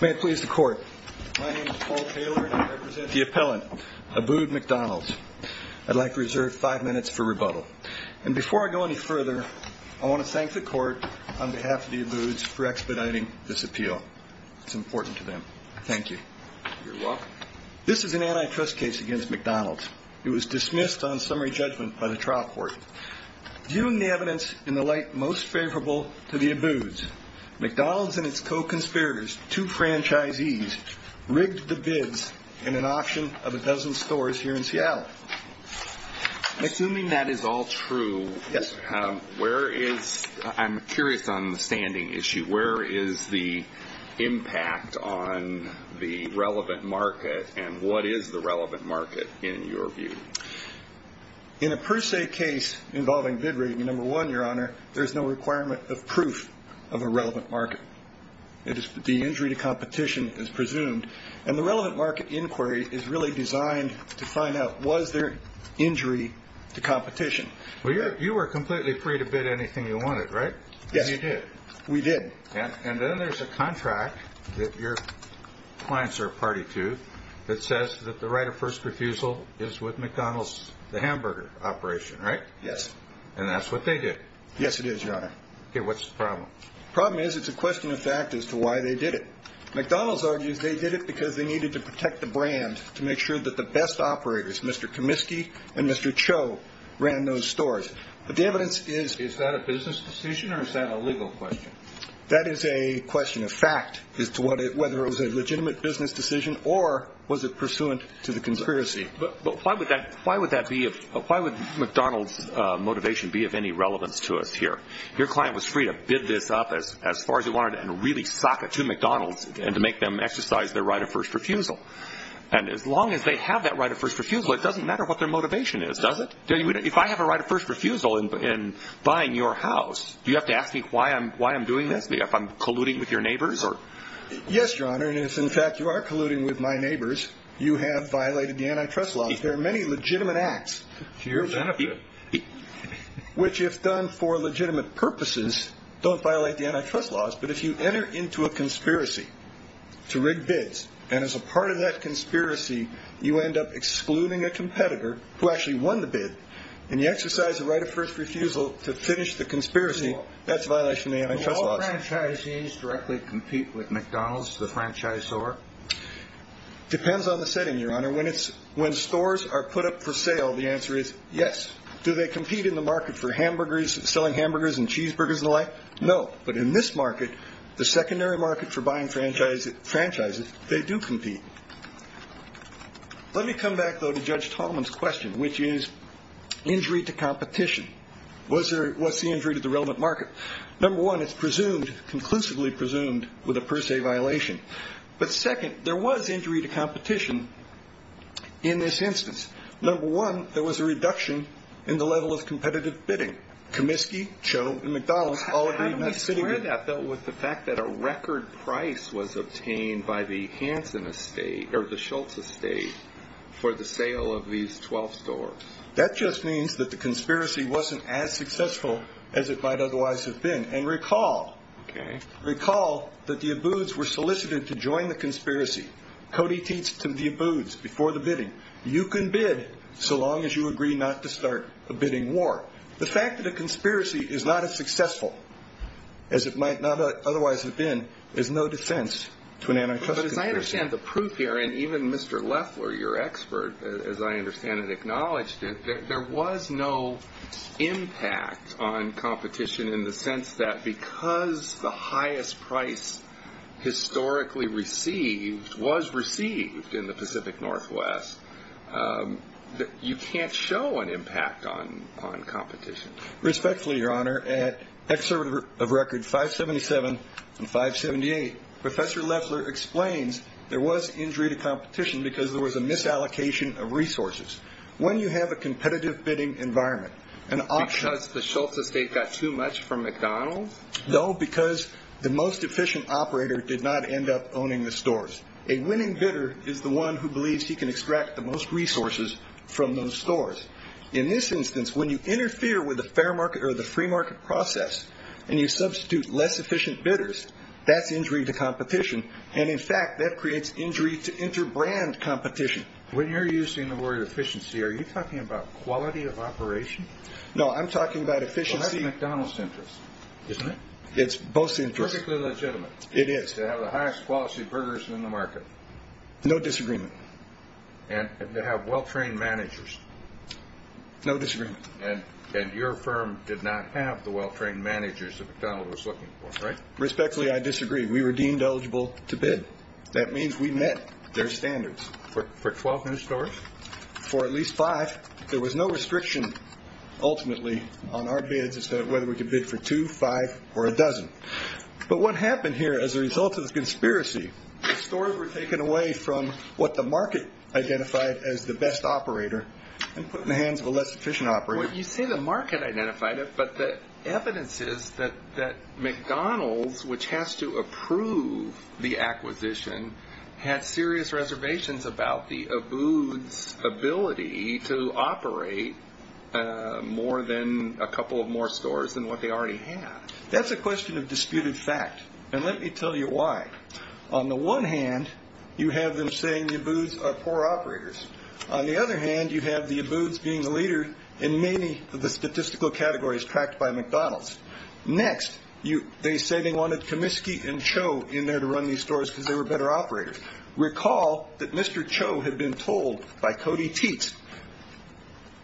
May it please the court. My name is Paul Taylor and I represent the appellant, Abboud McDonalds. I'd like to reserve five minutes for rebuttal. And before I go any further, I want to thank the court on behalf of the Abbouds for expediting this appeal. It's important to them. Thank you. You're welcome. This is an antitrust case against McDonalds. It was dismissed on summary judgment by the trial court. Viewing the evidence in the light most favorable to the Abbouds, McDonalds and its co-conspirators two franchisees rigged the bids in an auction of a dozen stores here in Seattle. Assuming that is all true, where is, I'm curious on the standing issue, where is the impact on the relevant market and what is the relevant market in your view? In a per se case involving bid rigging, number one, your honor, there's no requirement of proof of a relevant market. It is the basis for what is presumed to be injury to competition is presumed, and the relevant market inquiry is really designed to find out was there injury to competition? You were completely free to bid anything you wanted, right? Yes, we did. And then there's a contract that your clients are a party to that says that the right of first refusal is with McDonald's, the hamburger operation, right? Yes. And that's what they did. Yes, it is, your honor. Okay, what's the problem? The problem is it's a question of fact as to why they did it. And I think that's a problem because it's a question of fact, McDonald's argues they did it because they needed to protect the brand to make sure that the best operators, Mr. Comiskey and Mr. Cho, ran those stores. But the evidence is... Is that a business decision or is that a legal question? That is a question of fact as to whether it was a legitimate business decision or was it pursuant to the conspiracy. But why would McDonald's motivation be of any relevance to us here? Your client was free to bid this up as far as he wanted and really sock it to McDonald's and to make them exercise their right of first refusal. And as long as they have that right of first refusal, it doesn't matter what their motivation is, does it? If I have a right of first refusal in buying your house, do you have to ask me why I'm doing this? If I'm colluding with your neighbors? Yes, your honor, and if in fact you are colluding with my neighbors, you have violated the antitrust laws. There are many legitimate acts... You don't violate the antitrust laws, but if you enter into a conspiracy to rig bids, and as a part of that conspiracy, you end up excluding a competitor who actually won the bid, and you exercise the right of first refusal to finish the conspiracy, that's a violation of the antitrust laws. Do all franchisees directly compete with McDonald's, the franchise store? Depends on the setting, your honor. When stores are put up for sale, the answer is yes. Do they compete in the market for selling hamburgers and cheeseburgers and the like? No. But in this market, the secondary market for buying franchises, they do compete. Let me come back, though, to Judge Tallman's question, which is injury to competition. What's the injury to the relevant market? Number one, it's presumed, conclusively presumed, with a per se violation. But second, there was injury to competition in this instance. Number one, there was a reduction in the level of competitive bidding. Comiskey, Cho, and McDonald's all agreed not to sit... How do we square that, though, with the fact that a record price was obtained by the Hanson estate, or the Schultz estate, for the sale of these 12 stores? That just means that the conspiracy wasn't as successful as it might otherwise have been. And recall... Okay. Recall that the Abbouds were solicited to join the conspiracy. Cody teats to the Abbouds before the bidding. You can bid so long as you agree not to start a bidding war. The fact that a conspiracy is not as successful as it might not otherwise have been is no defense to an antitrust conspiracy. I understand the proof here, and even Mr. Leffler, your expert, as I understand it, acknowledged it. There was no impact on competition in the sense that because the highest price historically received was received in the Pacific Northwest, you can't show an impact on competition. Respectfully, your honor, at excerpt of record 577 and 578, Professor Leffler explains there was injury to competition because there was a misallocation of resources. When you have a competitive bidding environment, an option... Because the Schultz estate got too much from McDonald's? No, because the most efficient operator did not end up owning the stores. A winning bidder is the one who believes he can extract the most resources from those stores. In this instance, when you interfere with the free market process and you substitute less efficient bidders, that's injury to competition. And in fact, that creates injury to interbrand competition. When you're using the word efficiency, are you talking about quality of operation? No, I'm talking about efficiency... Perfectly legitimate. It is. To have the highest quality burgers in the market. No disagreement. And to have well-trained managers. No disagreement. And your firm did not have the well-trained managers that McDonald's was looking for, right? Respectfully, I disagree. We were deemed eligible to bid. That means we met their standards. For 12 new stores? For at least five. There was no restriction, ultimately, on our bids as to whether we could bid for two, five, or a dozen. But what happened here as a result of this conspiracy, the stores were taken away from what the market identified as the best operator and put in the hands of a less efficient operator. You say the market identified it, but the evidence is that McDonald's, which has to approve the acquisition, had serious reservations about the Abud's ability to operate more than a couple of more stores than what they already had. That's a question of disputed fact. And let me tell you why. On the one hand, you have them saying the Abud's are poor operators. On the other hand, you have the Abud's being the leader in many of the statistical categories tracked by McDonald's. Next, they say they wanted Comiskey and Cho in there to run these stores because they were better operators. Recall that Mr. Cho had been told by Cody Teats,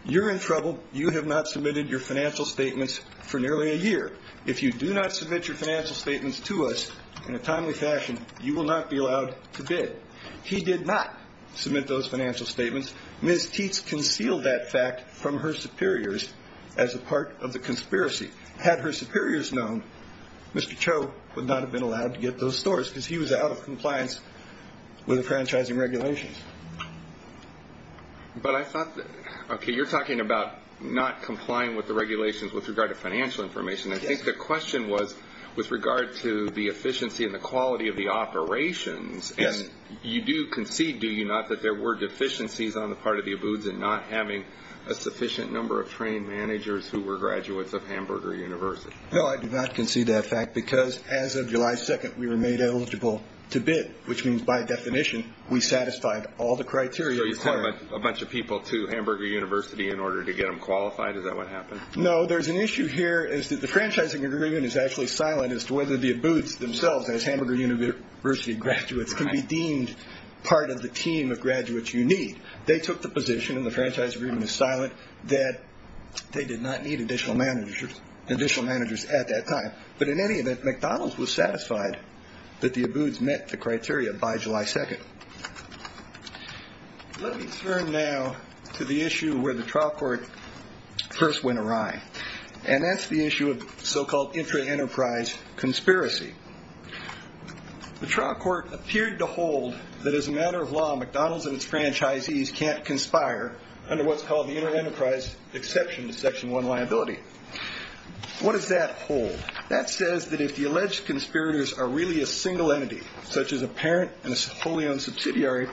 you're in trouble. You have not submitted your financial statements for nearly a year. If you do not submit your financial statements to us in a timely fashion, you will not be allowed to bid. He did not submit those financial statements. Ms. Teats concealed that fact from her superiors as a part of the conspiracy. Had her superiors known, Mr. Cho would not have been allowed to get those stores because he was out of compliance with the franchising regulations. But I thought, okay, you're talking about not complying with the regulations with regard to financial information. I think the question was with regard to the efficiency and the quality of the operations. And you do concede, do you not, that there were deficiencies on the part of the Abud's in not having a sufficient number of trained managers who were graduates of Hamburger University? No, I do not concede that fact because as of July 2nd, we were made eligible to bid, which means by definition we satisfied all the criteria. So you called a bunch of people to Hamburger University in order to get them qualified, is that what happened? No, there's an issue here is that the franchising agreement is actually silent as to whether the Abud's themselves as Hamburger University graduates can be deemed part of the team of graduates you need. They took the position in the franchise agreement is silent that they did not need additional managers at that time. But in any event, McDonald's was satisfied that the Abud's met the criteria by July 2nd. Let me turn now to the issue where the trial court first went awry, and that's the issue of so-called intra-enterprise conspiracy. The trial court appeared to hold that as a matter of law, McDonald's and its franchisees can't conspire under what's called the intra-enterprise exception to Section 1 liability. What does that hold? That says that if the alleged conspirators are really a single entity, such as a parent and a wholly owned subsidiary,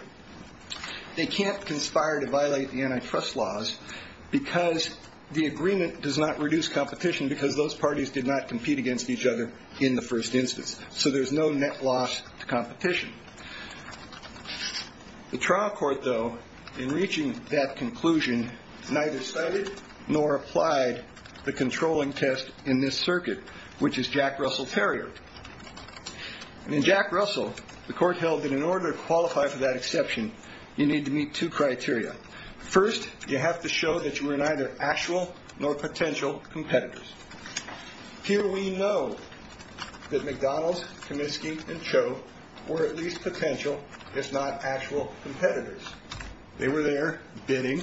they can't conspire to violate the antitrust laws because the agreement does not reduce competition because those parties did not compete against each other in the first instance. So there's no net loss to competition. The trial court, though, in reaching that conclusion, neither cited nor applied the controlling test in this circuit, which is Jack Russell Terrier. In Jack Russell, the court held that in order to qualify for that exception, you need to meet two criteria. First, you have to show that you are neither actual nor potential competitors. Here we know that McDonald's, Comiskey, and Cho were at least potential, if not actual, competitors. They were there bidding.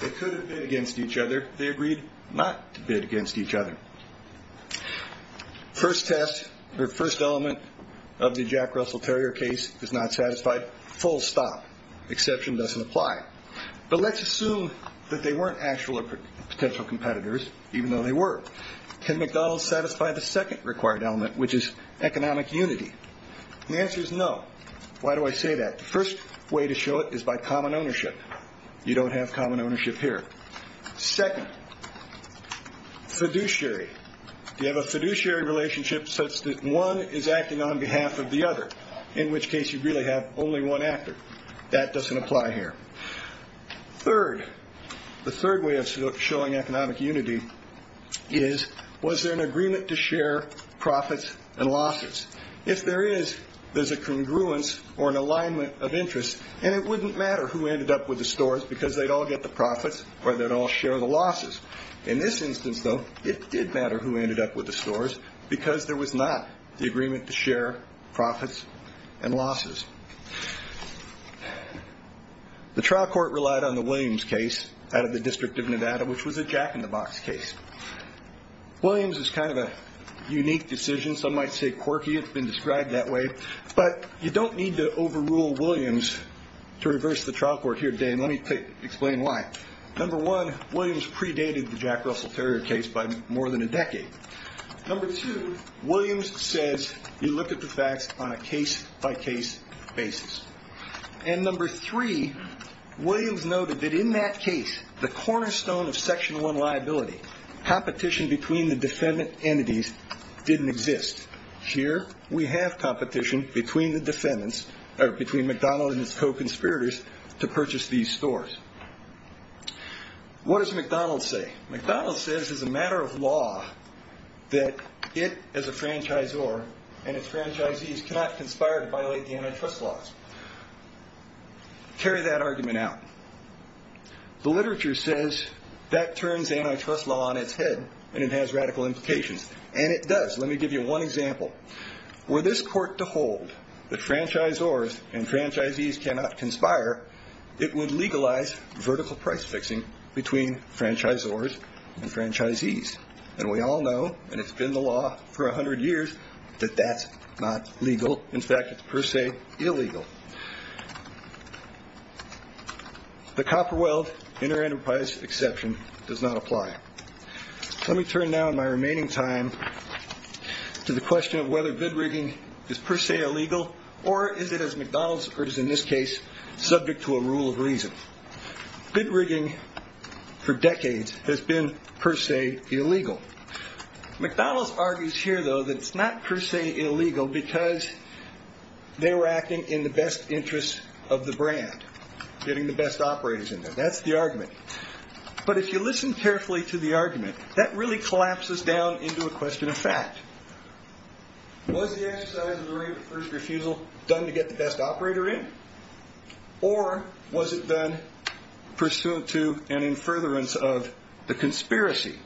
They could have bid against each other. They agreed not to bid against each other. First test or first element of the Jack Russell Terrier case is not satisfied. Full stop. Exception doesn't apply. But let's assume that they weren't actual or potential competitors, even though they were. Can McDonald's satisfy the second required element, which is economic unity? The answer is no. Why do I say that? The first way to show it is by common ownership. You don't have common ownership here. Second, fiduciary. You have a fiduciary relationship such that one is acting on behalf of the other, in which case you really have only one actor. That doesn't apply here. Third, the third way of showing economic unity is, was there an agreement to share profits and losses? If there is, there's a congruence or an alignment of interest, and it wouldn't matter who ended up with the stores because they'd all get the profits or they'd all share the losses. In this instance, though, it did matter who ended up with the stores because there was not the agreement to share profits and losses. The trial court relied on the Williams case out of the District of Nevada, which was a jack-in-the-box case. Williams is kind of a unique decision. Some might say quirky. It's been described that way. But you don't need to overrule Williams to reverse the trial court here today, and let me explain why. Number one, Williams predated the Jack Russell Terrier case by more than a decade. Number two, Williams says you look at the facts on a case-by-case basis. And number three, Williams noted that in that case, the cornerstone of Section 1 liability, competition between the defendant entities didn't exist. Here, we have competition between the defendants, or between McDonald and his co-conspirators, to purchase these stores. What does McDonald say? McDonald says it's a matter of law that it, as a franchisor, and its franchisees cannot conspire to violate the antitrust laws. Carry that argument out. The literature says that turns antitrust law on its head, and it has radical implications. And it does. Let me give you one example. Were this court to hold that franchisors and franchisees cannot conspire, it would legalize vertical price-fixing between franchisors and franchisees. And we all know, and it's been the law for 100 years, that that's not legal. In fact, it's per se illegal. The Copperweld Inter-Enterprise Exception does not apply. Let me turn now, in my remaining time, to the question of whether bid rigging is per se illegal, or is it, as McDonald's argues in this case, subject to a rule of reason. Bid rigging, for decades, has been per se illegal. McDonald's argues here, though, that it's not per se illegal because they were acting in the best interest of the brand, getting the best operators in there. That's the argument. But if you listen carefully to the argument, that really collapses down into a question of fact. Was the exercise of the right of first refusal done to get the best operator in, or was it done pursuant to an in furtherance of the conspiracy?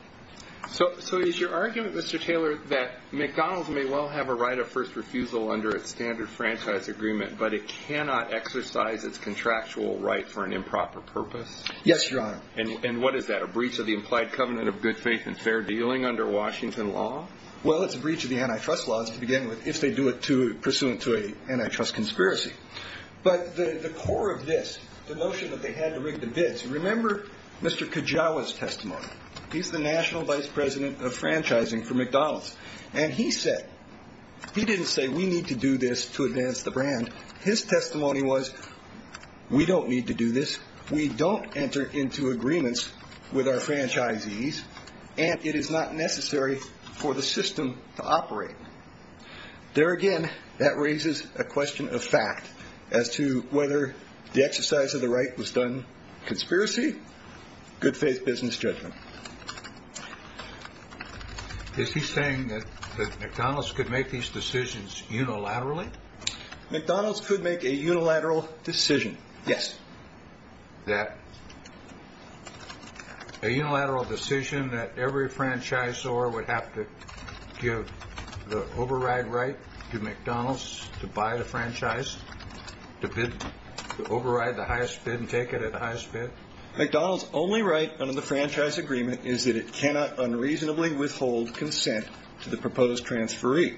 So is your argument, Mr. Taylor, that McDonald's may well have a right of first refusal under its standard franchise agreement, but it cannot exercise its contractual right for an improper purpose? Yes, Your Honor. And what is that, a breach of the implied covenant of good faith and fair dealing under Washington law? Well, it's a breach of the antitrust laws, to begin with, if they do it pursuant to an antitrust conspiracy. But the core of this, the notion that they had to rig the bids, remember Mr. Kajawa's testimony. He's the national vice president of franchising for McDonald's. And he said, he didn't say we need to do this to advance the brand. His testimony was, we don't need to do this. We don't enter into agreements with our franchisees, and it is not necessary for the system to operate. There again, that raises a question of fact as to whether the exercise of the right was done conspiracy, good faith business judgment. Is he saying that McDonald's could make these decisions unilaterally? McDonald's could make a unilateral decision, yes. A unilateral decision that every franchisor would have to give the override right to McDonald's to buy the franchise, to override the highest bid and take it at the highest bid? McDonald's only right under the franchise agreement is that it cannot unreasonably withhold consent to the proposed transferee.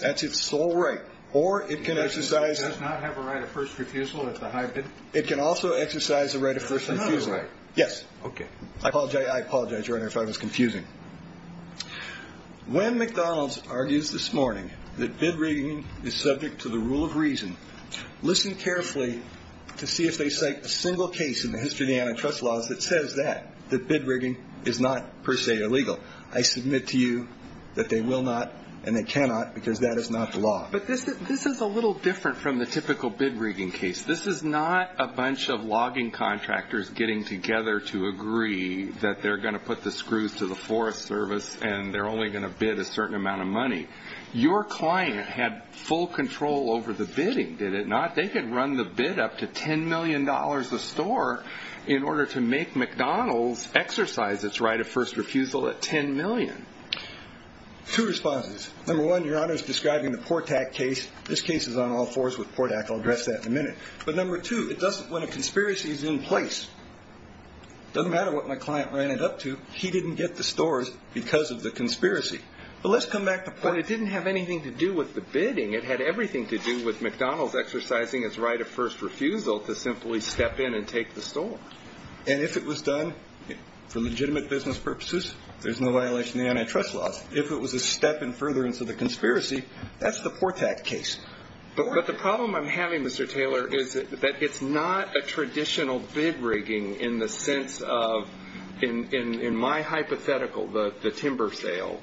That's its sole right. Or it can exercise. It does not have a right of first refusal at the high bid? It can also exercise a right of first refusal. That's another right. Yes. Okay. I apologize, Your Honor, if I was confusing. When McDonald's argues this morning that bid rigging is subject to the rule of reason, listen carefully to see if they cite a single case in the history of the antitrust laws that says that, that bid rigging is not per se illegal. I submit to you that they will not and they cannot because that is not the law. But this is a little different from the typical bid rigging case. This is not a bunch of logging contractors getting together to agree that they're going to put the screws to the Forest Service and they're only going to bid a certain amount of money. Your client had full control over the bidding, did it not? They could run the bid up to $10 million a store in order to make McDonald's exercise its right of first refusal at $10 million. Two responses. Number one, Your Honor, is describing the Portak case. This case is on all fours with Portak. I'll address that in a minute. But number two, when a conspiracy is in place, it doesn't matter what my client ran it up to, he didn't get the stores because of the conspiracy. But let's come back to Portak. But it didn't have anything to do with the bidding. It had everything to do with McDonald's exercising its right of first refusal to simply step in and take the store. And if it was done for legitimate business purposes, there's no violation of the antitrust laws. If it was a step in furtherance of the conspiracy, that's the Portak case. But the problem I'm having, Mr. Taylor, is that it's not a traditional bid rigging in the sense of, in my hypothetical, the timber sale.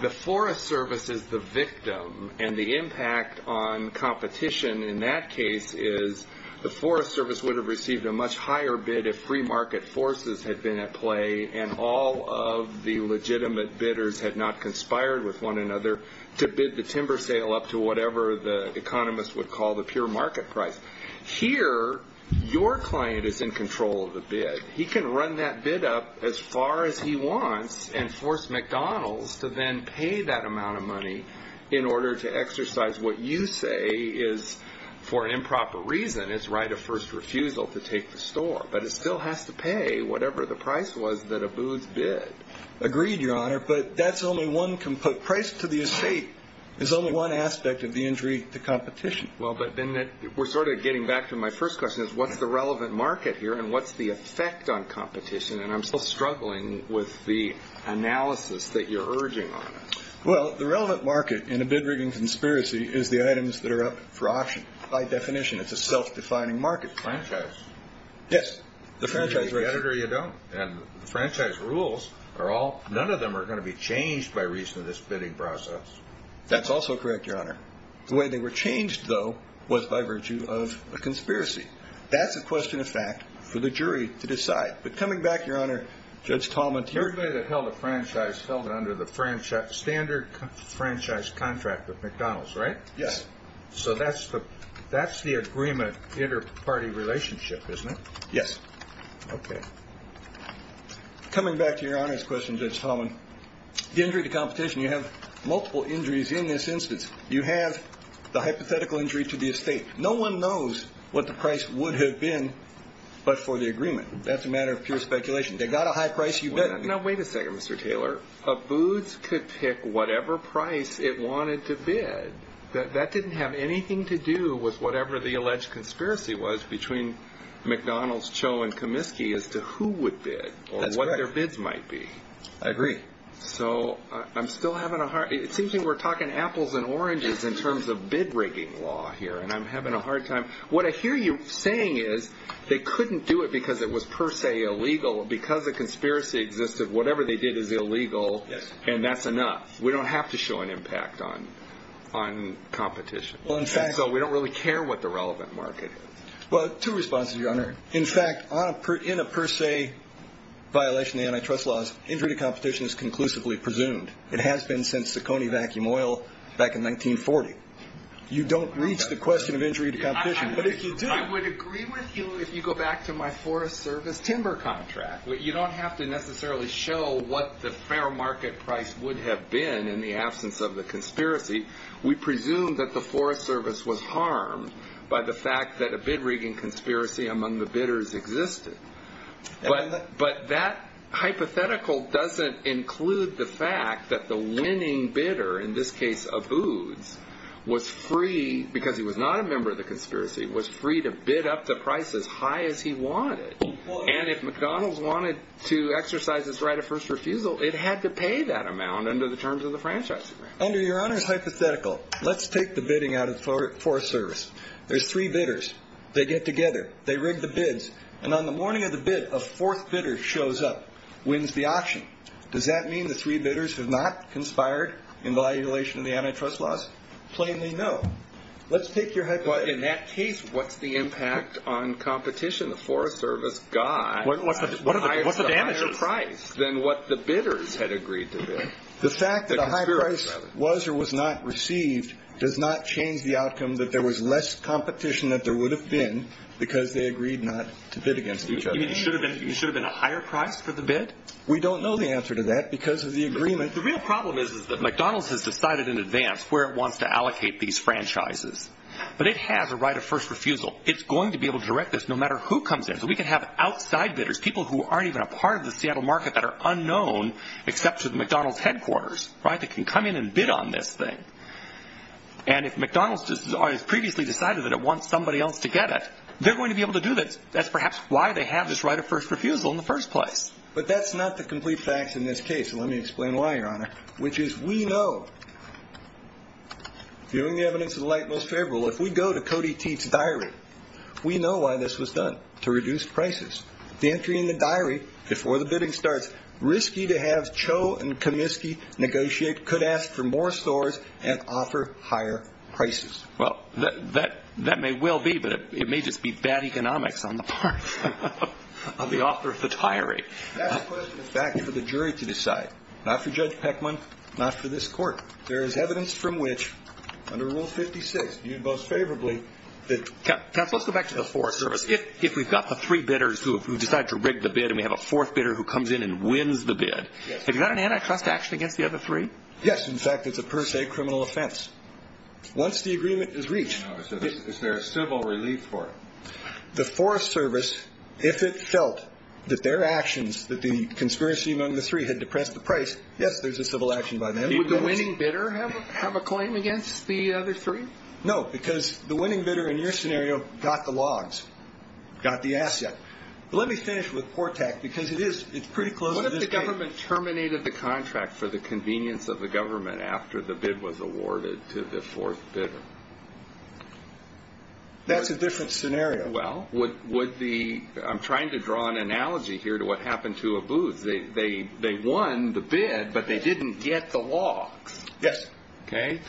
The Forest Service is the victim. And the impact on competition in that case is the Forest Service would have received a much higher bid if free market forces had been at play and all of the legitimate bidders had not conspired with one another to bid the timber sale up to whatever the economists would call the pure market price. Here, your client is in control of the bid. He can run that bid up as far as he wants and force McDonald's to then pay that amount of money in order to exercise what you say is, for improper reason, its right of first refusal to take the store. But it still has to pay whatever the price was that Abu's bid. Agreed, Your Honor. But that's only one component. Price to the estate is only one aspect of the injury to competition. Well, but then we're sort of getting back to my first question is, what's the relevant market here and what's the effect on competition? And I'm still struggling with the analysis that you're urging on us. Well, the relevant market in a bid rigging conspiracy is the items that are up for auction. By definition, it's a self-defining market. Franchise. Yes, the franchise. You get it or you don't. And the franchise rules are all – none of them are going to be changed by reason of this bidding process. That's also correct, Your Honor. The way they were changed, though, was by virtue of a conspiracy. That's a question of fact for the jury to decide. But coming back, Your Honor, Judge Tallmonteer – Everybody that held a franchise held it under the standard franchise contract with McDonald's, right? Yes. So that's the agreement inter-party relationship, isn't it? Yes. Okay. Coming back to Your Honor's question, Judge Tallmont, the injury to competition, you have multiple injuries in this instance. You have the hypothetical injury to the estate. No one knows what the price would have been but for the agreement. That's a matter of pure speculation. They got a high price, you bid. Now, wait a second, Mr. Taylor. A Boots could pick whatever price it wanted to bid. That didn't have anything to do with whatever the alleged conspiracy was between McDonald's, Cho, and Comiskey as to who would bid or what their bids might be. I agree. So I'm still having a hard – it seems like we're talking apples and oranges in terms of bid-rigging law here, and I'm having a hard time – what I hear you saying is they couldn't do it because it was per se illegal. Because the conspiracy existed, whatever they did is illegal, and that's enough. We don't have to show an impact on competition. So we don't really care what the relevant market is. Well, two responses, Your Honor. In fact, in a per se violation of the antitrust laws, injury to competition is conclusively presumed. It has been since the Coney vacuum oil back in 1940. You don't reach the question of injury to competition, but if you do – I would agree with you if you go back to my Forest Service timber contract. You don't have to necessarily show what the fair market price would have been in the absence of the conspiracy. We presume that the Forest Service was harmed by the fact that a bid-rigging conspiracy among the bidders existed. But that hypothetical doesn't include the fact that the winning bidder, in this case, Aboods, was free – because he was not a member of the conspiracy – was free to bid up the price as high as he wanted. And if McDonald's wanted to exercise its right of first refusal, it had to pay that amount under the terms of the franchise agreement. Under Your Honor's hypothetical, let's take the bidding out of the Forest Service. There's three bidders. They get together. They rig the bids. And on the morning of the bid, a fourth bidder shows up, wins the auction. Does that mean the three bidders have not conspired in violation of the antitrust laws? Plainly no. Let's take your – In that case, what's the impact on competition? The Forest Service got a higher price than what the bidders had agreed to bid. The fact that a high price was or was not received does not change the outcome that there was less competition than there would have been because they agreed not to bid against each other. You mean it should have been a higher price for the bid? We don't know the answer to that because of the agreement. The real problem is that McDonald's has decided in advance where it wants to allocate these franchises. But it has a right of first refusal. It's going to be able to direct this no matter who comes in. So we can have outside bidders, people who aren't even a part of the Seattle market that are unknown, except to the McDonald's headquarters, right, that can come in and bid on this thing. And if McDonald's has previously decided that it wants somebody else to get it, they're going to be able to do this. That's perhaps why they have this right of first refusal in the first place. But that's not the complete facts in this case. Let me explain why, Your Honor. Which is we know, viewing the evidence of the light most favorable, if we go to Cody Teet's diary, we know why this was done, to reduce prices. The entry in the diary before the bidding starts, risky to have Cho and Kaminsky negotiate, could ask for more stores and offer higher prices. Well, that may well be, but it may just be bad economics on the part of the author of the diary. That's a question of fact for the jury to decide, not for Judge Peckman, not for this court. There is evidence from which, under Rule 56, you'd boast favorably that- Counsel, let's go back to the Forest Service. If we've got the three bidders who decide to rig the bid and we have a fourth bidder who comes in and wins the bid, have you got an antitrust action against the other three? Yes, in fact, it's a per se criminal offense. Once the agreement is reached- Is there a civil relief for it? The Forest Service, if it felt that their actions, that the conspiracy among the three had depressed the price, yes, there's a civil action by them. Would the winning bidder have a claim against the other three? No, because the winning bidder, in your scenario, got the logs, got the asset. But let me finish with Portak, because it's pretty close to this date. What if the government terminated the contract for the convenience of the government after the bid was awarded to the fourth bidder? That's a different scenario. Well, would the-I'm trying to draw an analogy here to what happened to Abu. They won the bid, but they didn't get the logs. Yes. Okay.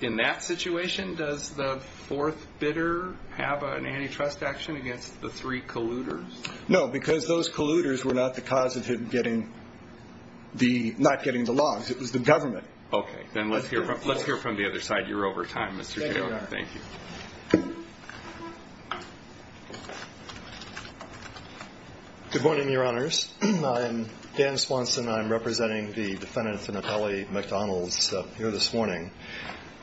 In that situation, does the fourth bidder have an antitrust action against the three colluders? No, because those colluders were not the cause of him not getting the logs. It was the government. Okay. Then let's hear from the other side. You're over time, Mr. Taylor. Thank you. Good morning, Your Honors. I'm Dan Swanson. I'm representing the defendant, Finatelli McDonalds, here this morning.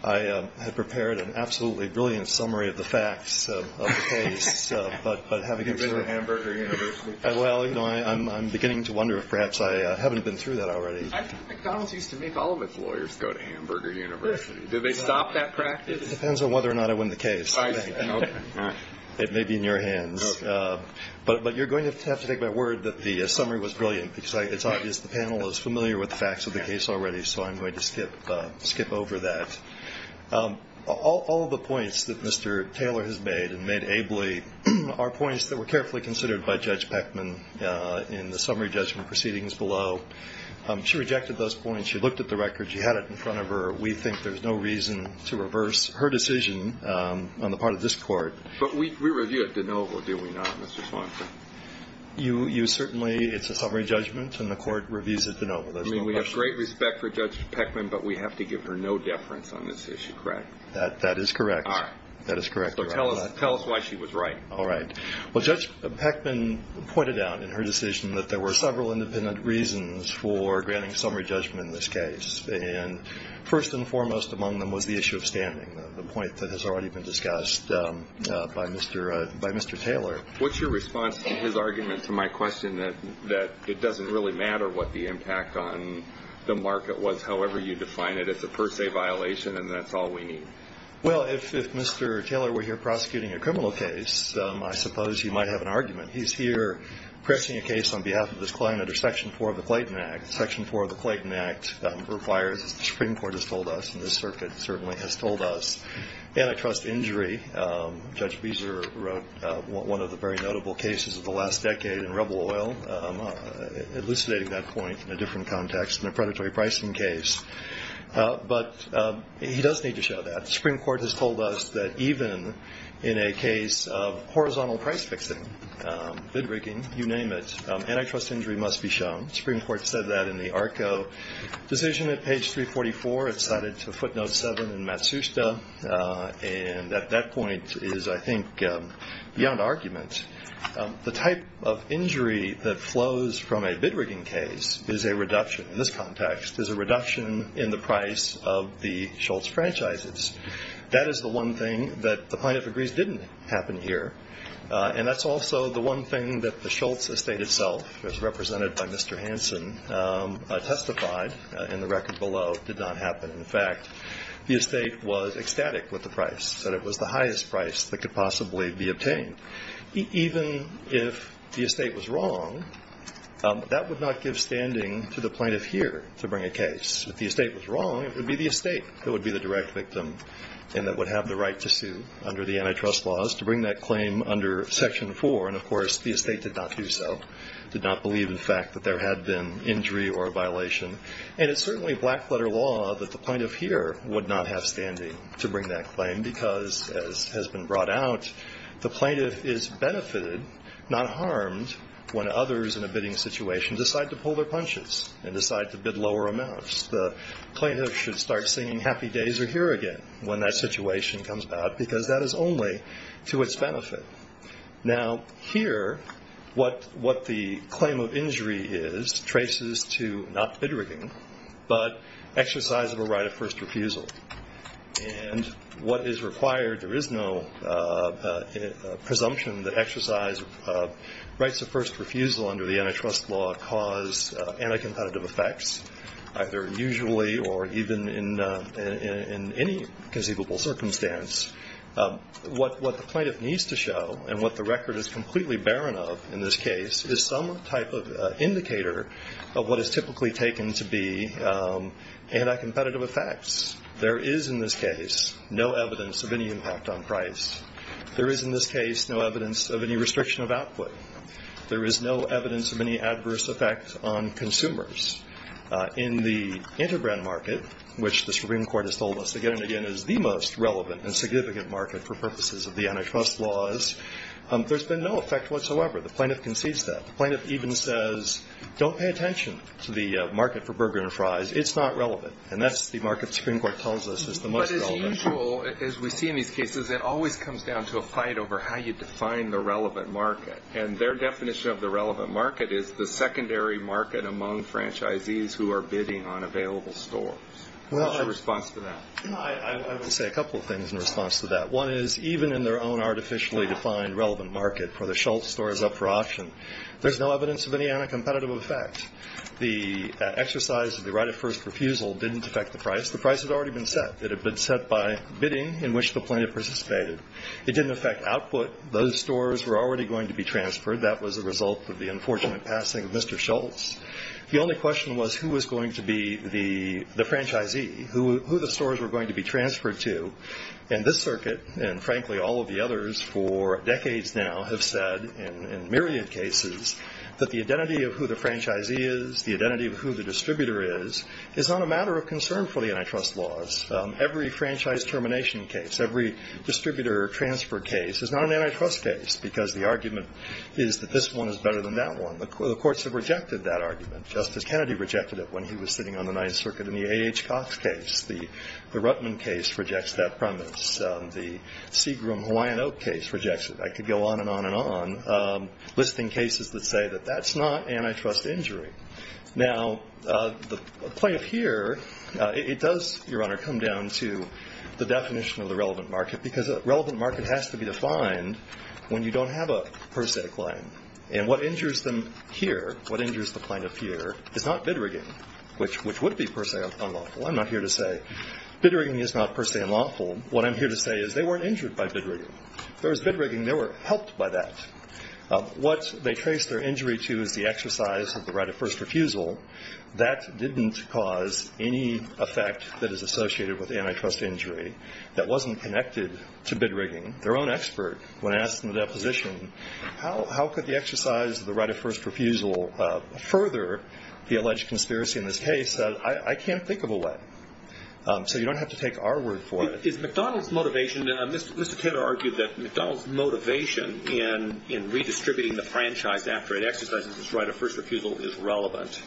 I have prepared an absolutely brilliant summary of the facts of the case. You've been to Hamburger University. Well, you know, I'm beginning to wonder if perhaps I haven't been through that already. I think McDonalds used to make all of its lawyers go to Hamburger University. Did they stop that practice? It depends on whether or not I win the case. It may be in your hands. Okay. But you're going to have to take my word that the summary was brilliant, because it's obvious the panel is familiar with the facts of the case already, so I'm going to skip over that. All of the points that Mr. Taylor has made and made ably are points that were carefully considered by Judge Peckman in the summary judgment proceedings below. She rejected those points. She looked at the record. She had it in front of her. We think there's no reason to reverse her decision on the part of this Court. But we reviewed it de novo, did we not, Mr. Swanson? You certainly – it's a summary judgment, and the Court reviews it de novo. I mean, we have great respect for Judge Peckman, but we have to give her no deference on this issue, correct? That is correct. That is correct. So tell us why she was right. All right. Well, Judge Peckman pointed out in her decision that there were several independent reasons for granting summary judgment in this case, and first and foremost among them was the issue of standing, the point that has already been discussed by Mr. Taylor. What's your response to his argument to my question that it doesn't really matter what the impact on the market was, however you define it? It's a per se violation, and that's all we need. Well, if Mr. Taylor were here prosecuting a criminal case, I suppose he might have an argument. He's here pressing a case on behalf of this client under Section 4 of the Clayton Act. Section 4 of the Clayton Act requires, as the Supreme Court has told us and this circuit certainly has told us, antitrust injury. Judge Beezer wrote one of the very notable cases of the last decade in rubble oil, elucidating that point in a different context in a predatory pricing case. But he does need to show that. The Supreme Court has told us that even in a case of horizontal price fixing, bid rigging, you name it, antitrust injury must be shown. The Supreme Court said that in the ARCO decision at page 344. It's cited to footnote 7 in Matsushita, and at that point is, I think, beyond argument. The type of injury that flows from a bid rigging case is a reduction. In this context, there's a reduction in the price of the Schultz franchises. That is the one thing that the plaintiff agrees didn't happen here, and that's also the one thing that the Schultz estate itself, as represented by Mr. Hanson, testified, in the record below, did not happen. In fact, the estate was ecstatic with the price, Even if the estate was wrong, that would not give standing to the plaintiff here to bring a case. If the estate was wrong, it would be the estate that would be the direct victim and that would have the right to sue under the antitrust laws to bring that claim under Section 4. And, of course, the estate did not do so, did not believe, in fact, that there had been injury or a violation. And it's certainly black-letter law that the plaintiff here would not have standing to bring that claim because, as has been brought out, the plaintiff is benefited, not harmed, when others in a bidding situation decide to pull their punches and decide to bid lower amounts. The plaintiff should start singing happy days are here again when that situation comes about because that is only to its benefit. Now, here, what the claim of injury is traces to not bid rigging, but exercise of a right of first refusal. And what is required, there is no presumption that exercise of rights of first refusal under the antitrust law cause anti-competitive effects, either usually or even in any conceivable circumstance. What the plaintiff needs to show and what the record is completely barren of in this case is some type of indicator of what is typically taken to be anti-competitive effects. There is, in this case, no evidence of any impact on price. There is, in this case, no evidence of any restriction of output. There is no evidence of any adverse effect on consumers. In the interbrand market, which the Supreme Court has told us again and again is the most relevant and significant market for purposes of the antitrust laws, there's been no effect whatsoever. The plaintiff concedes that. The plaintiff even says, don't pay attention to the market for burger and fries. It's not relevant. And that's the market the Supreme Court tells us is the most relevant. But as usual, as we see in these cases, it always comes down to a fight over how you define the relevant market. And their definition of the relevant market is the secondary market among franchisees who are bidding on available stores. What's your response to that? I will say a couple of things in response to that. One is, even in their own artificially defined relevant market where the Schultz store is up for auction, there's no evidence of any anti-competitive effect. The exercise of the right of first refusal didn't affect the price. The price had already been set. It had been set by bidding in which the plaintiff participated. It didn't affect output. Those stores were already going to be transferred. That was a result of the unfortunate passing of Mr. Schultz. The only question was who was going to be the franchisee, who the stores were going to be transferred to. And this circuit and, frankly, all of the others for decades now have said in myriad cases that the identity of who the franchisee is, the identity of who the distributor is, is not a matter of concern for the antitrust laws. Every franchise termination case, every distributor transfer case is not an antitrust case because the argument is that this one is better than that one. The courts have rejected that argument, just as Kennedy rejected it when he was sitting on the Ninth Circuit. In the A.H. Cox case, the Ruttman case rejects that premise. The Seagram-Hawaiian Oak case rejects it. I could go on and on and on, listing cases that say that that's not antitrust injury. Now, the plaintiff here, it does, Your Honor, come down to the definition of the relevant market because a relevant market has to be defined when you don't have a per se claim. And what injures them here, what injures the plaintiff here, is not bid rigging, which would be per se unlawful. I'm not here to say bid rigging is not per se unlawful. What I'm here to say is they weren't injured by bid rigging. If there was bid rigging, they were helped by that. What they trace their injury to is the exercise of the right of first refusal. That didn't cause any effect that is associated with antitrust injury that wasn't connected to bid rigging. Their own expert, when asked in the deposition, how could the exercise of the right of first refusal further the alleged conspiracy in this case? I can't think of a way. So you don't have to take our word for it. Is McDonald's motivation, Mr. Taylor argued that McDonald's motivation in redistributing the franchise after it exercises its right of first refusal is relevant.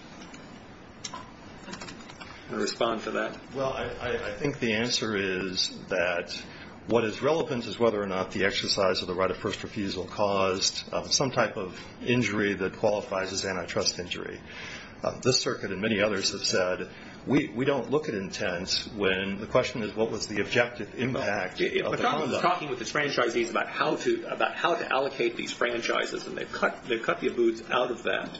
Do you want to respond to that? Well, I think the answer is that what is relevant is whether or not the exercise of the right of first refusal caused some type of injury that qualifies as antitrust injury. This circuit and many others have said we don't look at intents when the question is what was the objective impact. If McDonald's is talking with its franchisees about how to allocate these franchises, and they cut the abuts out of that,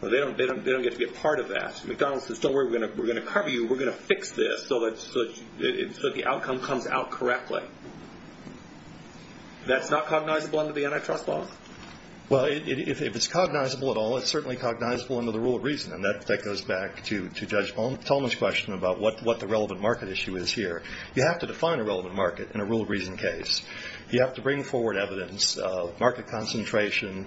they don't get to be a part of that. If McDonald's says don't worry, we're going to cover you, we're going to fix this so the outcome comes out correctly, that's not cognizable under the antitrust law? Well, if it's cognizable at all, it's certainly cognizable under the rule of reason, and that goes back to Judge Tolman's question about what the relevant market issue is here. You have to define a relevant market in a rule of reason case. You have to bring forward evidence of market concentration,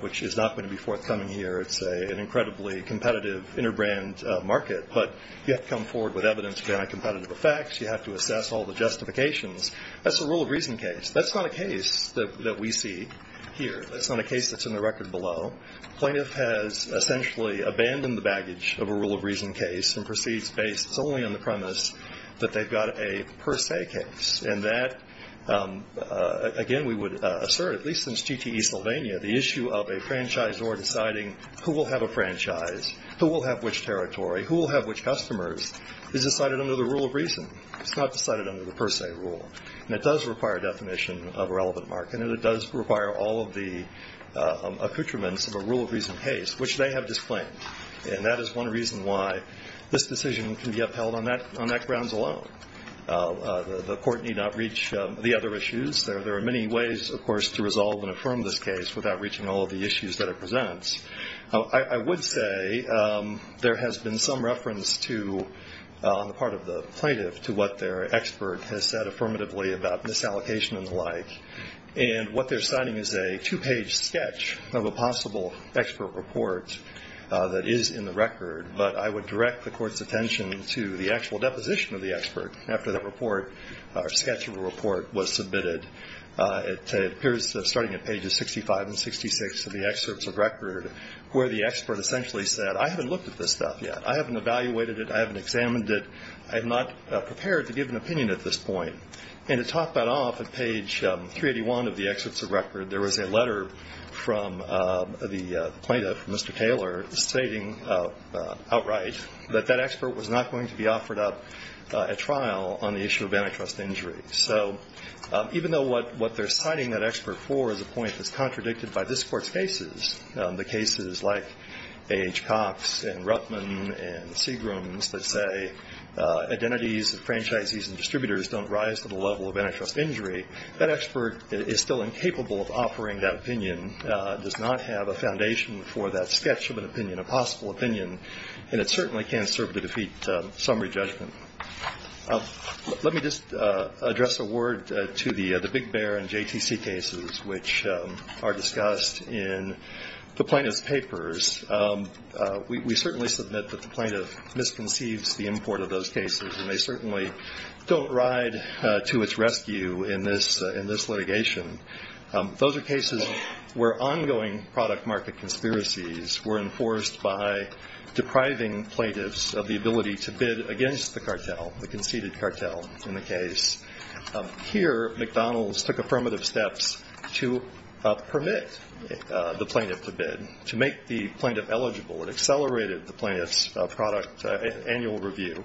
which is not going to be forthcoming here. It's an incredibly competitive interbrand market, but you have to come forward with evidence of anti-competitive effects. You have to assess all the justifications. That's a rule of reason case. That's not a case that we see here. That's not a case that's in the record below. Plaintiff has essentially abandoned the baggage of a rule of reason case and proceeds based solely on the premise that they've got a per se case. And that, again, we would assert, at least since TTE Sylvania, the issue of a franchisor deciding who will have a franchise, who will have which territory, who will have which customers is decided under the rule of reason. It's not decided under the per se rule. And it does require a definition of a relevant market, and it does require all of the accoutrements of a rule of reason case, which they have disclaimed. And that is one reason why this decision can be upheld on that grounds alone. The Court need not reach the other issues. There are many ways, of course, to resolve and affirm this case without reaching all of the issues that it presents. I would say there has been some reference to, on the part of the plaintiff, to what their expert has said affirmatively about misallocation and the like. And what they're citing is a two-page sketch of a possible expert report that is in the record. But I would direct the Court's attention to the actual deposition of the expert after that report, or sketch of a report, was submitted. It appears, starting at pages 65 and 66 of the excerpts of record, where the expert essentially said, I haven't looked at this stuff yet. I haven't evaluated it. I haven't examined it. I'm not prepared to give an opinion at this point. And to top that off, at page 381 of the excerpts of record, there was a letter from the plaintiff, Mr. Taylor, stating outright that that expert was not going to be offered up at trial on the issue of antitrust injury. So even though what they're citing that expert for is a point that's contradicted by this Court's cases, the cases like A.H. Cox and Ruttman and Seagram's, that say identities of franchisees and distributors don't rise to the level of antitrust injury, that expert is still incapable of offering that opinion, does not have a foundation for that sketch of an opinion, a possible opinion, and it certainly can't serve to defeat summary judgment. Let me just address a word to the Big Bear and JTC cases, which are discussed in the plaintiff's papers. We certainly submit that the plaintiff misconceives the import of those cases, and they certainly don't ride to its rescue in this litigation. Those are cases where ongoing product market conspiracies were enforced by depriving plaintiffs of the ability to bid against the cartel, the conceded cartel in the case. Here McDonald's took affirmative steps to permit the plaintiff to bid, to make the plaintiff eligible. It accelerated the plaintiff's product annual review.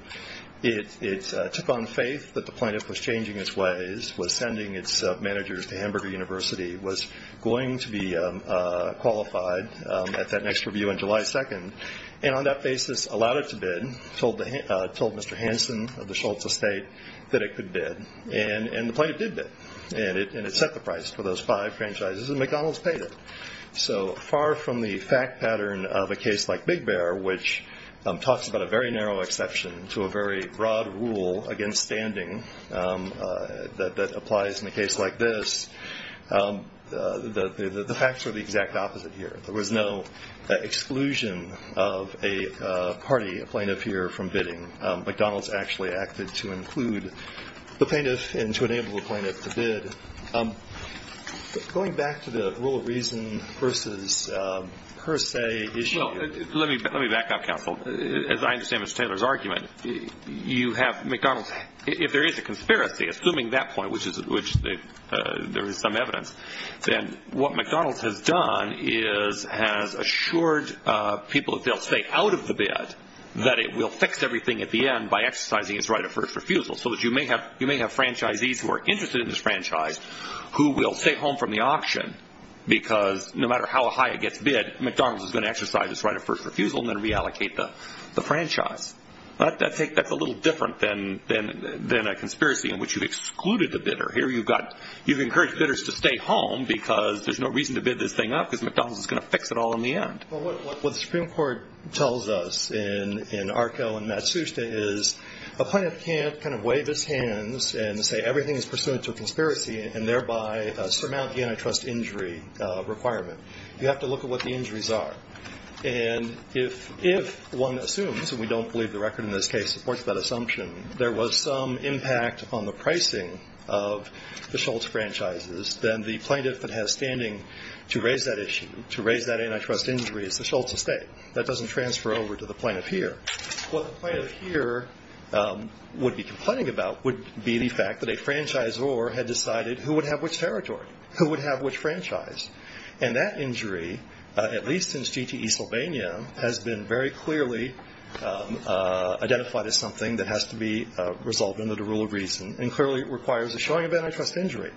It took on faith that the plaintiff was changing its ways, was sending its managers to Hamburger University, was going to be qualified at that next review on July 2nd, and on that basis allowed it to bid, told Mr. Hansen of the Schultz estate that it could bid, and the plaintiff did bid, and it set the price for those five franchises, and McDonald's paid it. So far from the fact pattern of a case like Big Bear, which talks about a very narrow exception to a very broad rule against standing that applies in a case like this, the facts are the exact opposite here. There was no exclusion of a party, a plaintiff here, from bidding. McDonald's actually acted to include the plaintiff and to enable the plaintiff to bid. Going back to the rule of reason versus per se issue. Well, let me back up, counsel. As I understand Mr. Taylor's argument, you have McDonald's. If there is a conspiracy, assuming that point, which there is some evidence, then what McDonald's has done is has assured people that they'll stay out of the bid, that it will fix everything at the end by exercising its right of first refusal, so that you may have franchisees who are interested in this franchise who will stay home from the auction because no matter how high it gets bid, McDonald's is going to exercise its right of first refusal and then reallocate the franchise. That's a little different than a conspiracy in which you've excluded the bidder. Here you've encouraged bidders to stay home because there's no reason to bid this thing up because McDonald's is going to fix it all in the end. Well, what the Supreme Court tells us in ARCO and Matsushita is a plaintiff can't kind of wave his hands and say everything is pursuant to a conspiracy and thereby surmount the antitrust injury requirement. You have to look at what the injuries are. And if one assumes, and we don't believe the record in this case supports that assumption, there was some impact on the pricing of the Schultz franchises, then the plaintiff that has standing to raise that antitrust injury is the Schultz estate. That doesn't transfer over to the plaintiff here. What the plaintiff here would be complaining about would be the fact that a franchisor had decided who would have which territory, who would have which franchise. And that injury, at least since GTE Sylvania, has been very clearly identified as something that has to be resolved under the rule of reason and clearly requires a showing of antitrust injury.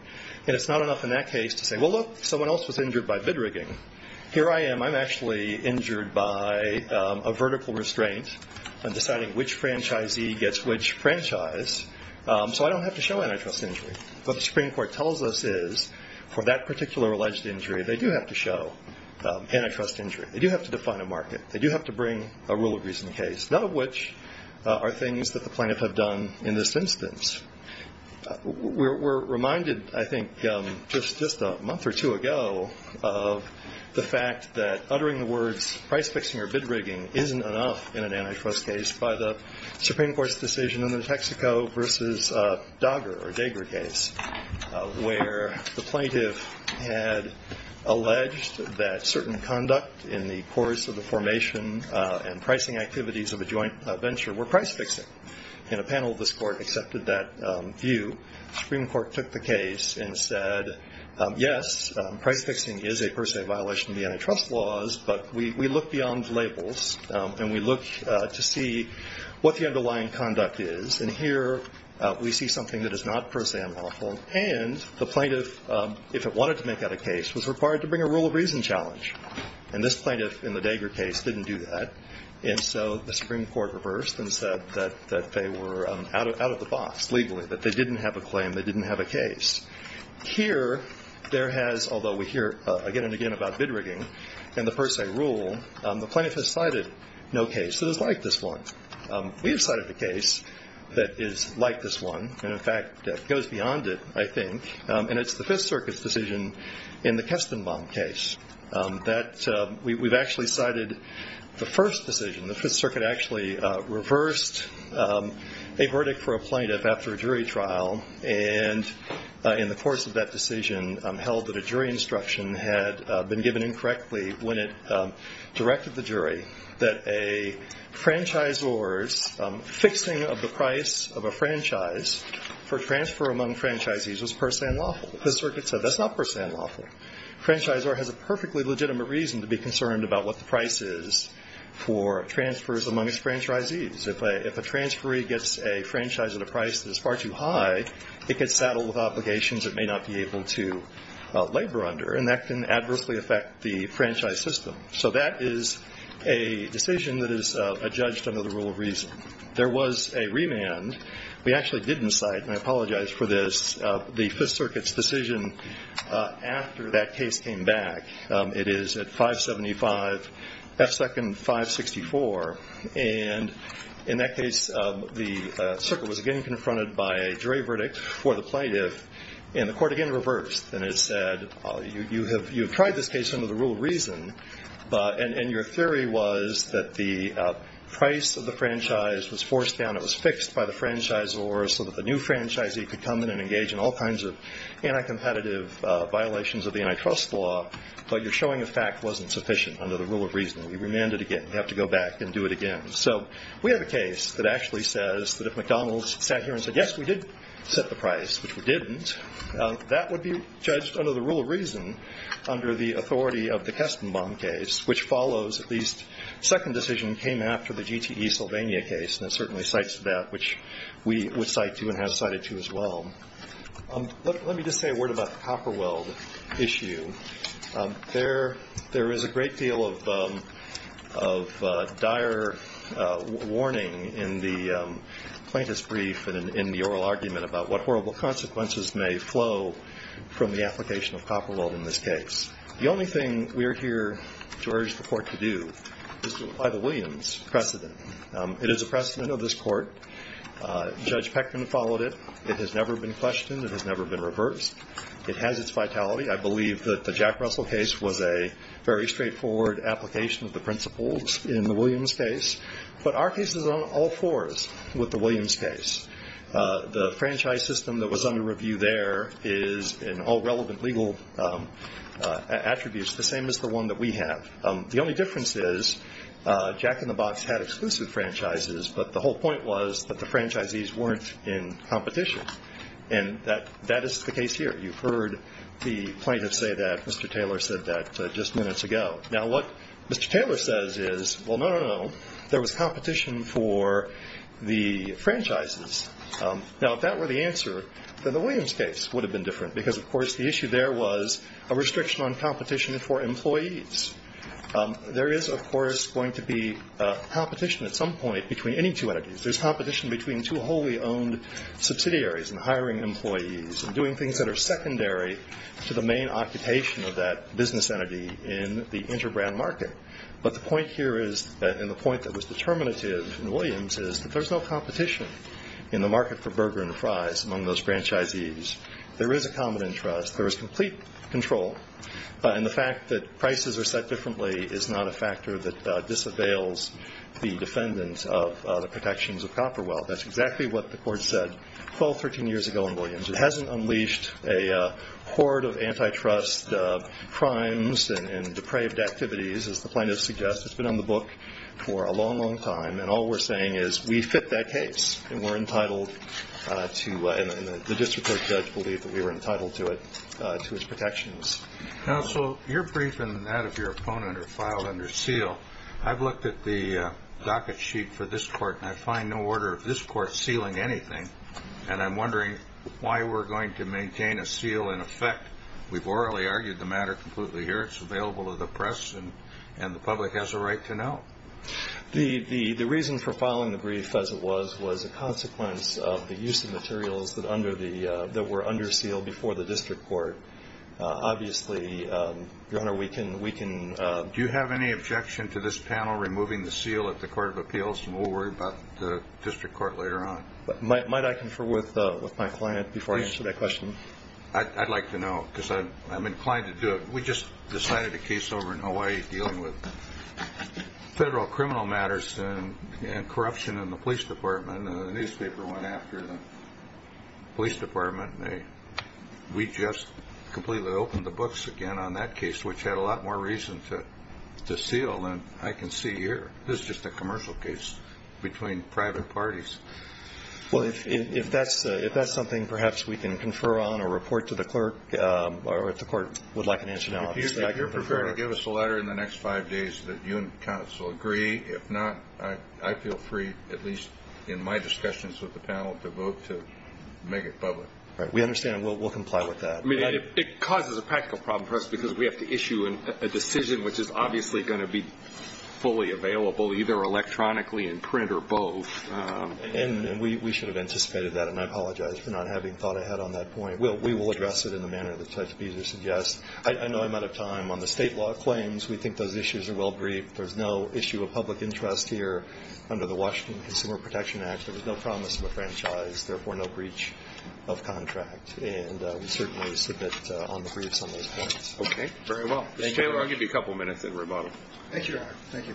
And it's not enough in that case to say, well, look, someone else was injured by bid rigging. Here I am. I'm actually injured by a vertical restraint on deciding which franchisee gets which franchise, so I don't have to show antitrust injury. What the Supreme Court tells us is for that particular alleged injury, they do have to show antitrust injury. They do have to define a market. They do have to bring a rule of reason case, none of which are things that the plaintiff had done in this instance. We're reminded, I think, just a month or two ago of the fact that uttering the words price-fixing or bid rigging isn't enough in an antitrust case by the Supreme Court's decision in the Texaco versus Dager case where the plaintiff had alleged that certain conduct in the course of the formation and pricing activities of a joint venture were price-fixing. And a panel of this court accepted that view. The Supreme Court took the case and said, yes, price-fixing is a per se violation of the antitrust laws, but we look beyond labels and we look to see what the underlying conduct is. And here we see something that is not per se unlawful, and the plaintiff, if it wanted to make that a case, was required to bring a rule of reason challenge. And this plaintiff in the Dager case didn't do that. And so the Supreme Court reversed and said that they were out of the box legally, that they didn't have a claim, they didn't have a case. Here there has, although we hear again and again about bid rigging and the per se rule, the plaintiff has cited no case that is like this one. We have cited a case that is like this one and, in fact, goes beyond it, I think, and it's the Fifth Circuit's decision in the Kestenbaum case. We've actually cited the first decision. The Fifth Circuit actually reversed a verdict for a plaintiff after a jury trial and in the course of that decision held that a jury instruction had been given incorrectly when it directed the jury that a franchisor's fixing of the price of a franchise for transfer among franchisees was per se unlawful. The Circuit said that's not per se unlawful. A franchisor has a perfectly legitimate reason to be concerned about what the price is for transfers among its franchisees. If a transferee gets a franchise at a price that is far too high, it gets saddled with obligations it may not be able to labor under, and that can adversely affect the franchise system. So that is a decision that is adjudged under the rule of reason. There was a remand. We actually didn't cite, and I apologize for this, the Fifth Circuit's decision after that case came back. It is at 575 F. Second, 564, and in that case the Circuit was again confronted by a jury verdict for the plaintiff, and the court again reversed and it said you have tried this case under the rule of reason, and your theory was that the price of the franchise was forced down, and it was fixed by the franchisor so that the new franchisee could come in and engage in all kinds of anti-competitive violations of the antitrust law, but your showing of fact wasn't sufficient under the rule of reason. We remanded again. We have to go back and do it again. So we have a case that actually says that if McDonald's sat here and said, yes, we did set the price, which we didn't, that would be judged under the rule of reason under the authority of the Kestenbaum case, which follows at least second decision came after the GTE Sylvania case, and it certainly cites that, which we would cite to and have cited to as well. Let me just say a word about the copper weld issue. There is a great deal of dire warning in the plaintiff's brief and in the oral argument about what horrible consequences may flow from the application of copper weld in this case. The only thing we are here to urge the court to do is to apply the Williams precedent. It is a precedent of this court. Judge Peckman followed it. It has never been questioned. It has never been reversed. It has its vitality. I believe that the Jack Russell case was a very straightforward application of the principles in the Williams case, but our case is on all fours with the Williams case. The franchise system that was under review there is in all relevant legal attributes the same as the one that we have. The only difference is Jack in the Box had exclusive franchises, but the whole point was that the franchisees weren't in competition, and that is the case here. You've heard the plaintiff say that. Mr. Taylor said that just minutes ago. Now, what Mr. Taylor says is, well, no, no, no, there was competition for the franchises. Now, if that were the answer, then the Williams case would have been different because, of course, the issue there was a restriction on competition for employees. There is, of course, going to be competition at some point between any two entities. There's competition between two wholly owned subsidiaries and hiring employees and doing things that are secondary to the main occupation of that business entity in the interbrand market. But the point here is, and the point that was determinative in Williams, is that there's no competition in the market for burger and fries among those franchisees. There is a common interest. There is complete control. And the fact that prices are set differently is not a factor that disavails the defendants of the protections of copper wealth. That's exactly what the court said 12, 13 years ago in Williams. It hasn't unleashed a horde of antitrust crimes and depraved activities, as the plaintiff suggests. It's been on the book for a long, long time, and all we're saying is we fit that case and we're entitled to, and the district court judge believed that we were entitled to it, to its protections. Counsel, your brief and that of your opponent are filed under seal. I've looked at the docket sheet for this court, and I find no order of this court sealing anything, and I'm wondering why we're going to maintain a seal in effect. We've orally argued the matter completely here. It's available to the press, and the public has a right to know. The reason for filing the brief, as it was, was a consequence of the use of materials that were under seal before the district court. Obviously, Your Honor, we can ‑‑ Do you have any objection to this panel removing the seal at the court of appeals, and we'll worry about the district court later on? Might I confer with my client before I answer that question? I'd like to know, because I'm inclined to do it. We just decided a case over in Hawaii dealing with federal criminal matters and corruption in the police department, and the newspaper went after the police department. We just completely opened the books again on that case, which had a lot more reason to seal than I can see here. This is just a commercial case between private parties. If that's something perhaps we can confer on or report to the clerk, or if the court would like an answer now, obviously, I can confer. If you're prepared to give us a letter in the next five days that you and counsel agree, if not, I feel free, at least in my discussions with the panel, to vote to make it public. We understand, and we'll comply with that. It causes a practical problem for us because we have to issue a decision, which is obviously going to be fully available, either electronically in print or both. And we should have anticipated that, and I apologize for not having thought ahead on that point. We will address it in the manner that Judge Beezer suggests. I know I'm out of time. On the state law claims, we think those issues are well briefed. There's no issue of public interest here under the Washington Consumer Protection Act. There was no promise of a franchise, therefore, no breach of contract. And we certainly submit on the briefs on those points. Okay. Very well. Thank you. Mr. Taylor, I'll give you a couple of minutes in rebuttal. Thank you, Your Honor. Thank you.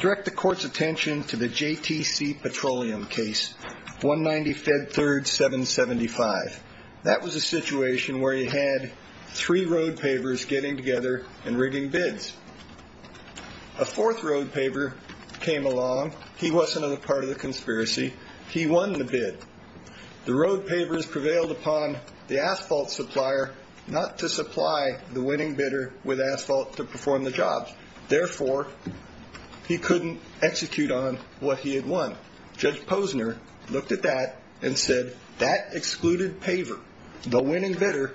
Direct the Court's attention to the JTC Petroleum case, 190 Fed 3rd, 775. That was a situation where you had three road pavers getting together and rigging bids. A fourth road paver came along. He wasn't a part of the conspiracy. He won the bid. The road pavers prevailed upon the asphalt supplier not to supply the winning bidder with asphalt to perform the job. Therefore, he couldn't execute on what he had won. Judge Posner looked at that and said, that excluded paver. The winning bidder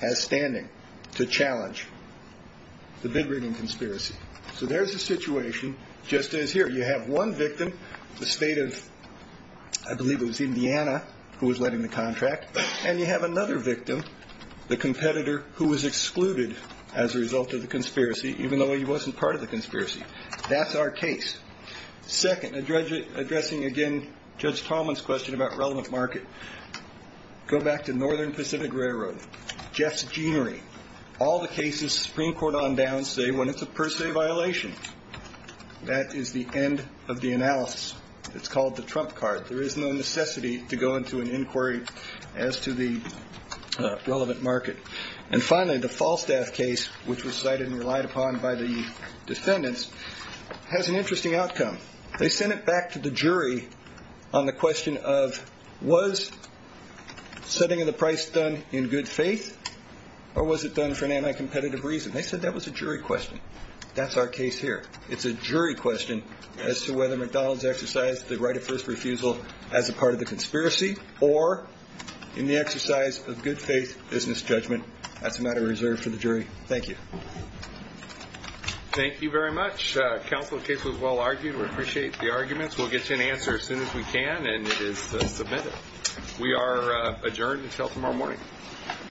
has standing to challenge the bid rigging conspiracy. So there's a situation just as here. You have one victim, the state of, I believe it was Indiana, who was letting the contract. And you have another victim, the competitor who was excluded as a result of the conspiracy, even though he wasn't part of the conspiracy. That's our case. Second, addressing again Judge Tallman's question about relevant market, go back to Northern Pacific Railroad, Jeff's Jeanery. All the cases Supreme Court on down say when it's a per se violation. That is the end of the analysis. It's called the trump card. There is no necessity to go into an inquiry as to the relevant market. And finally, the Falstaff case, which was cited and relied upon by the defendants, has an interesting outcome. They sent it back to the jury on the question of was setting of the price done in good faith or was it done for an anti-competitive reason? They said that was a jury question. That's our case here. It's a jury question as to whether McDonald's exercised the right of first refusal as a part of the conspiracy or in the exercise of good faith business judgment. That's a matter reserved for the jury. Thank you. Thank you very much. Counsel, the case was well argued. We appreciate the arguments. We'll get you an answer as soon as we can, and it is submitted. We are adjourned until tomorrow morning.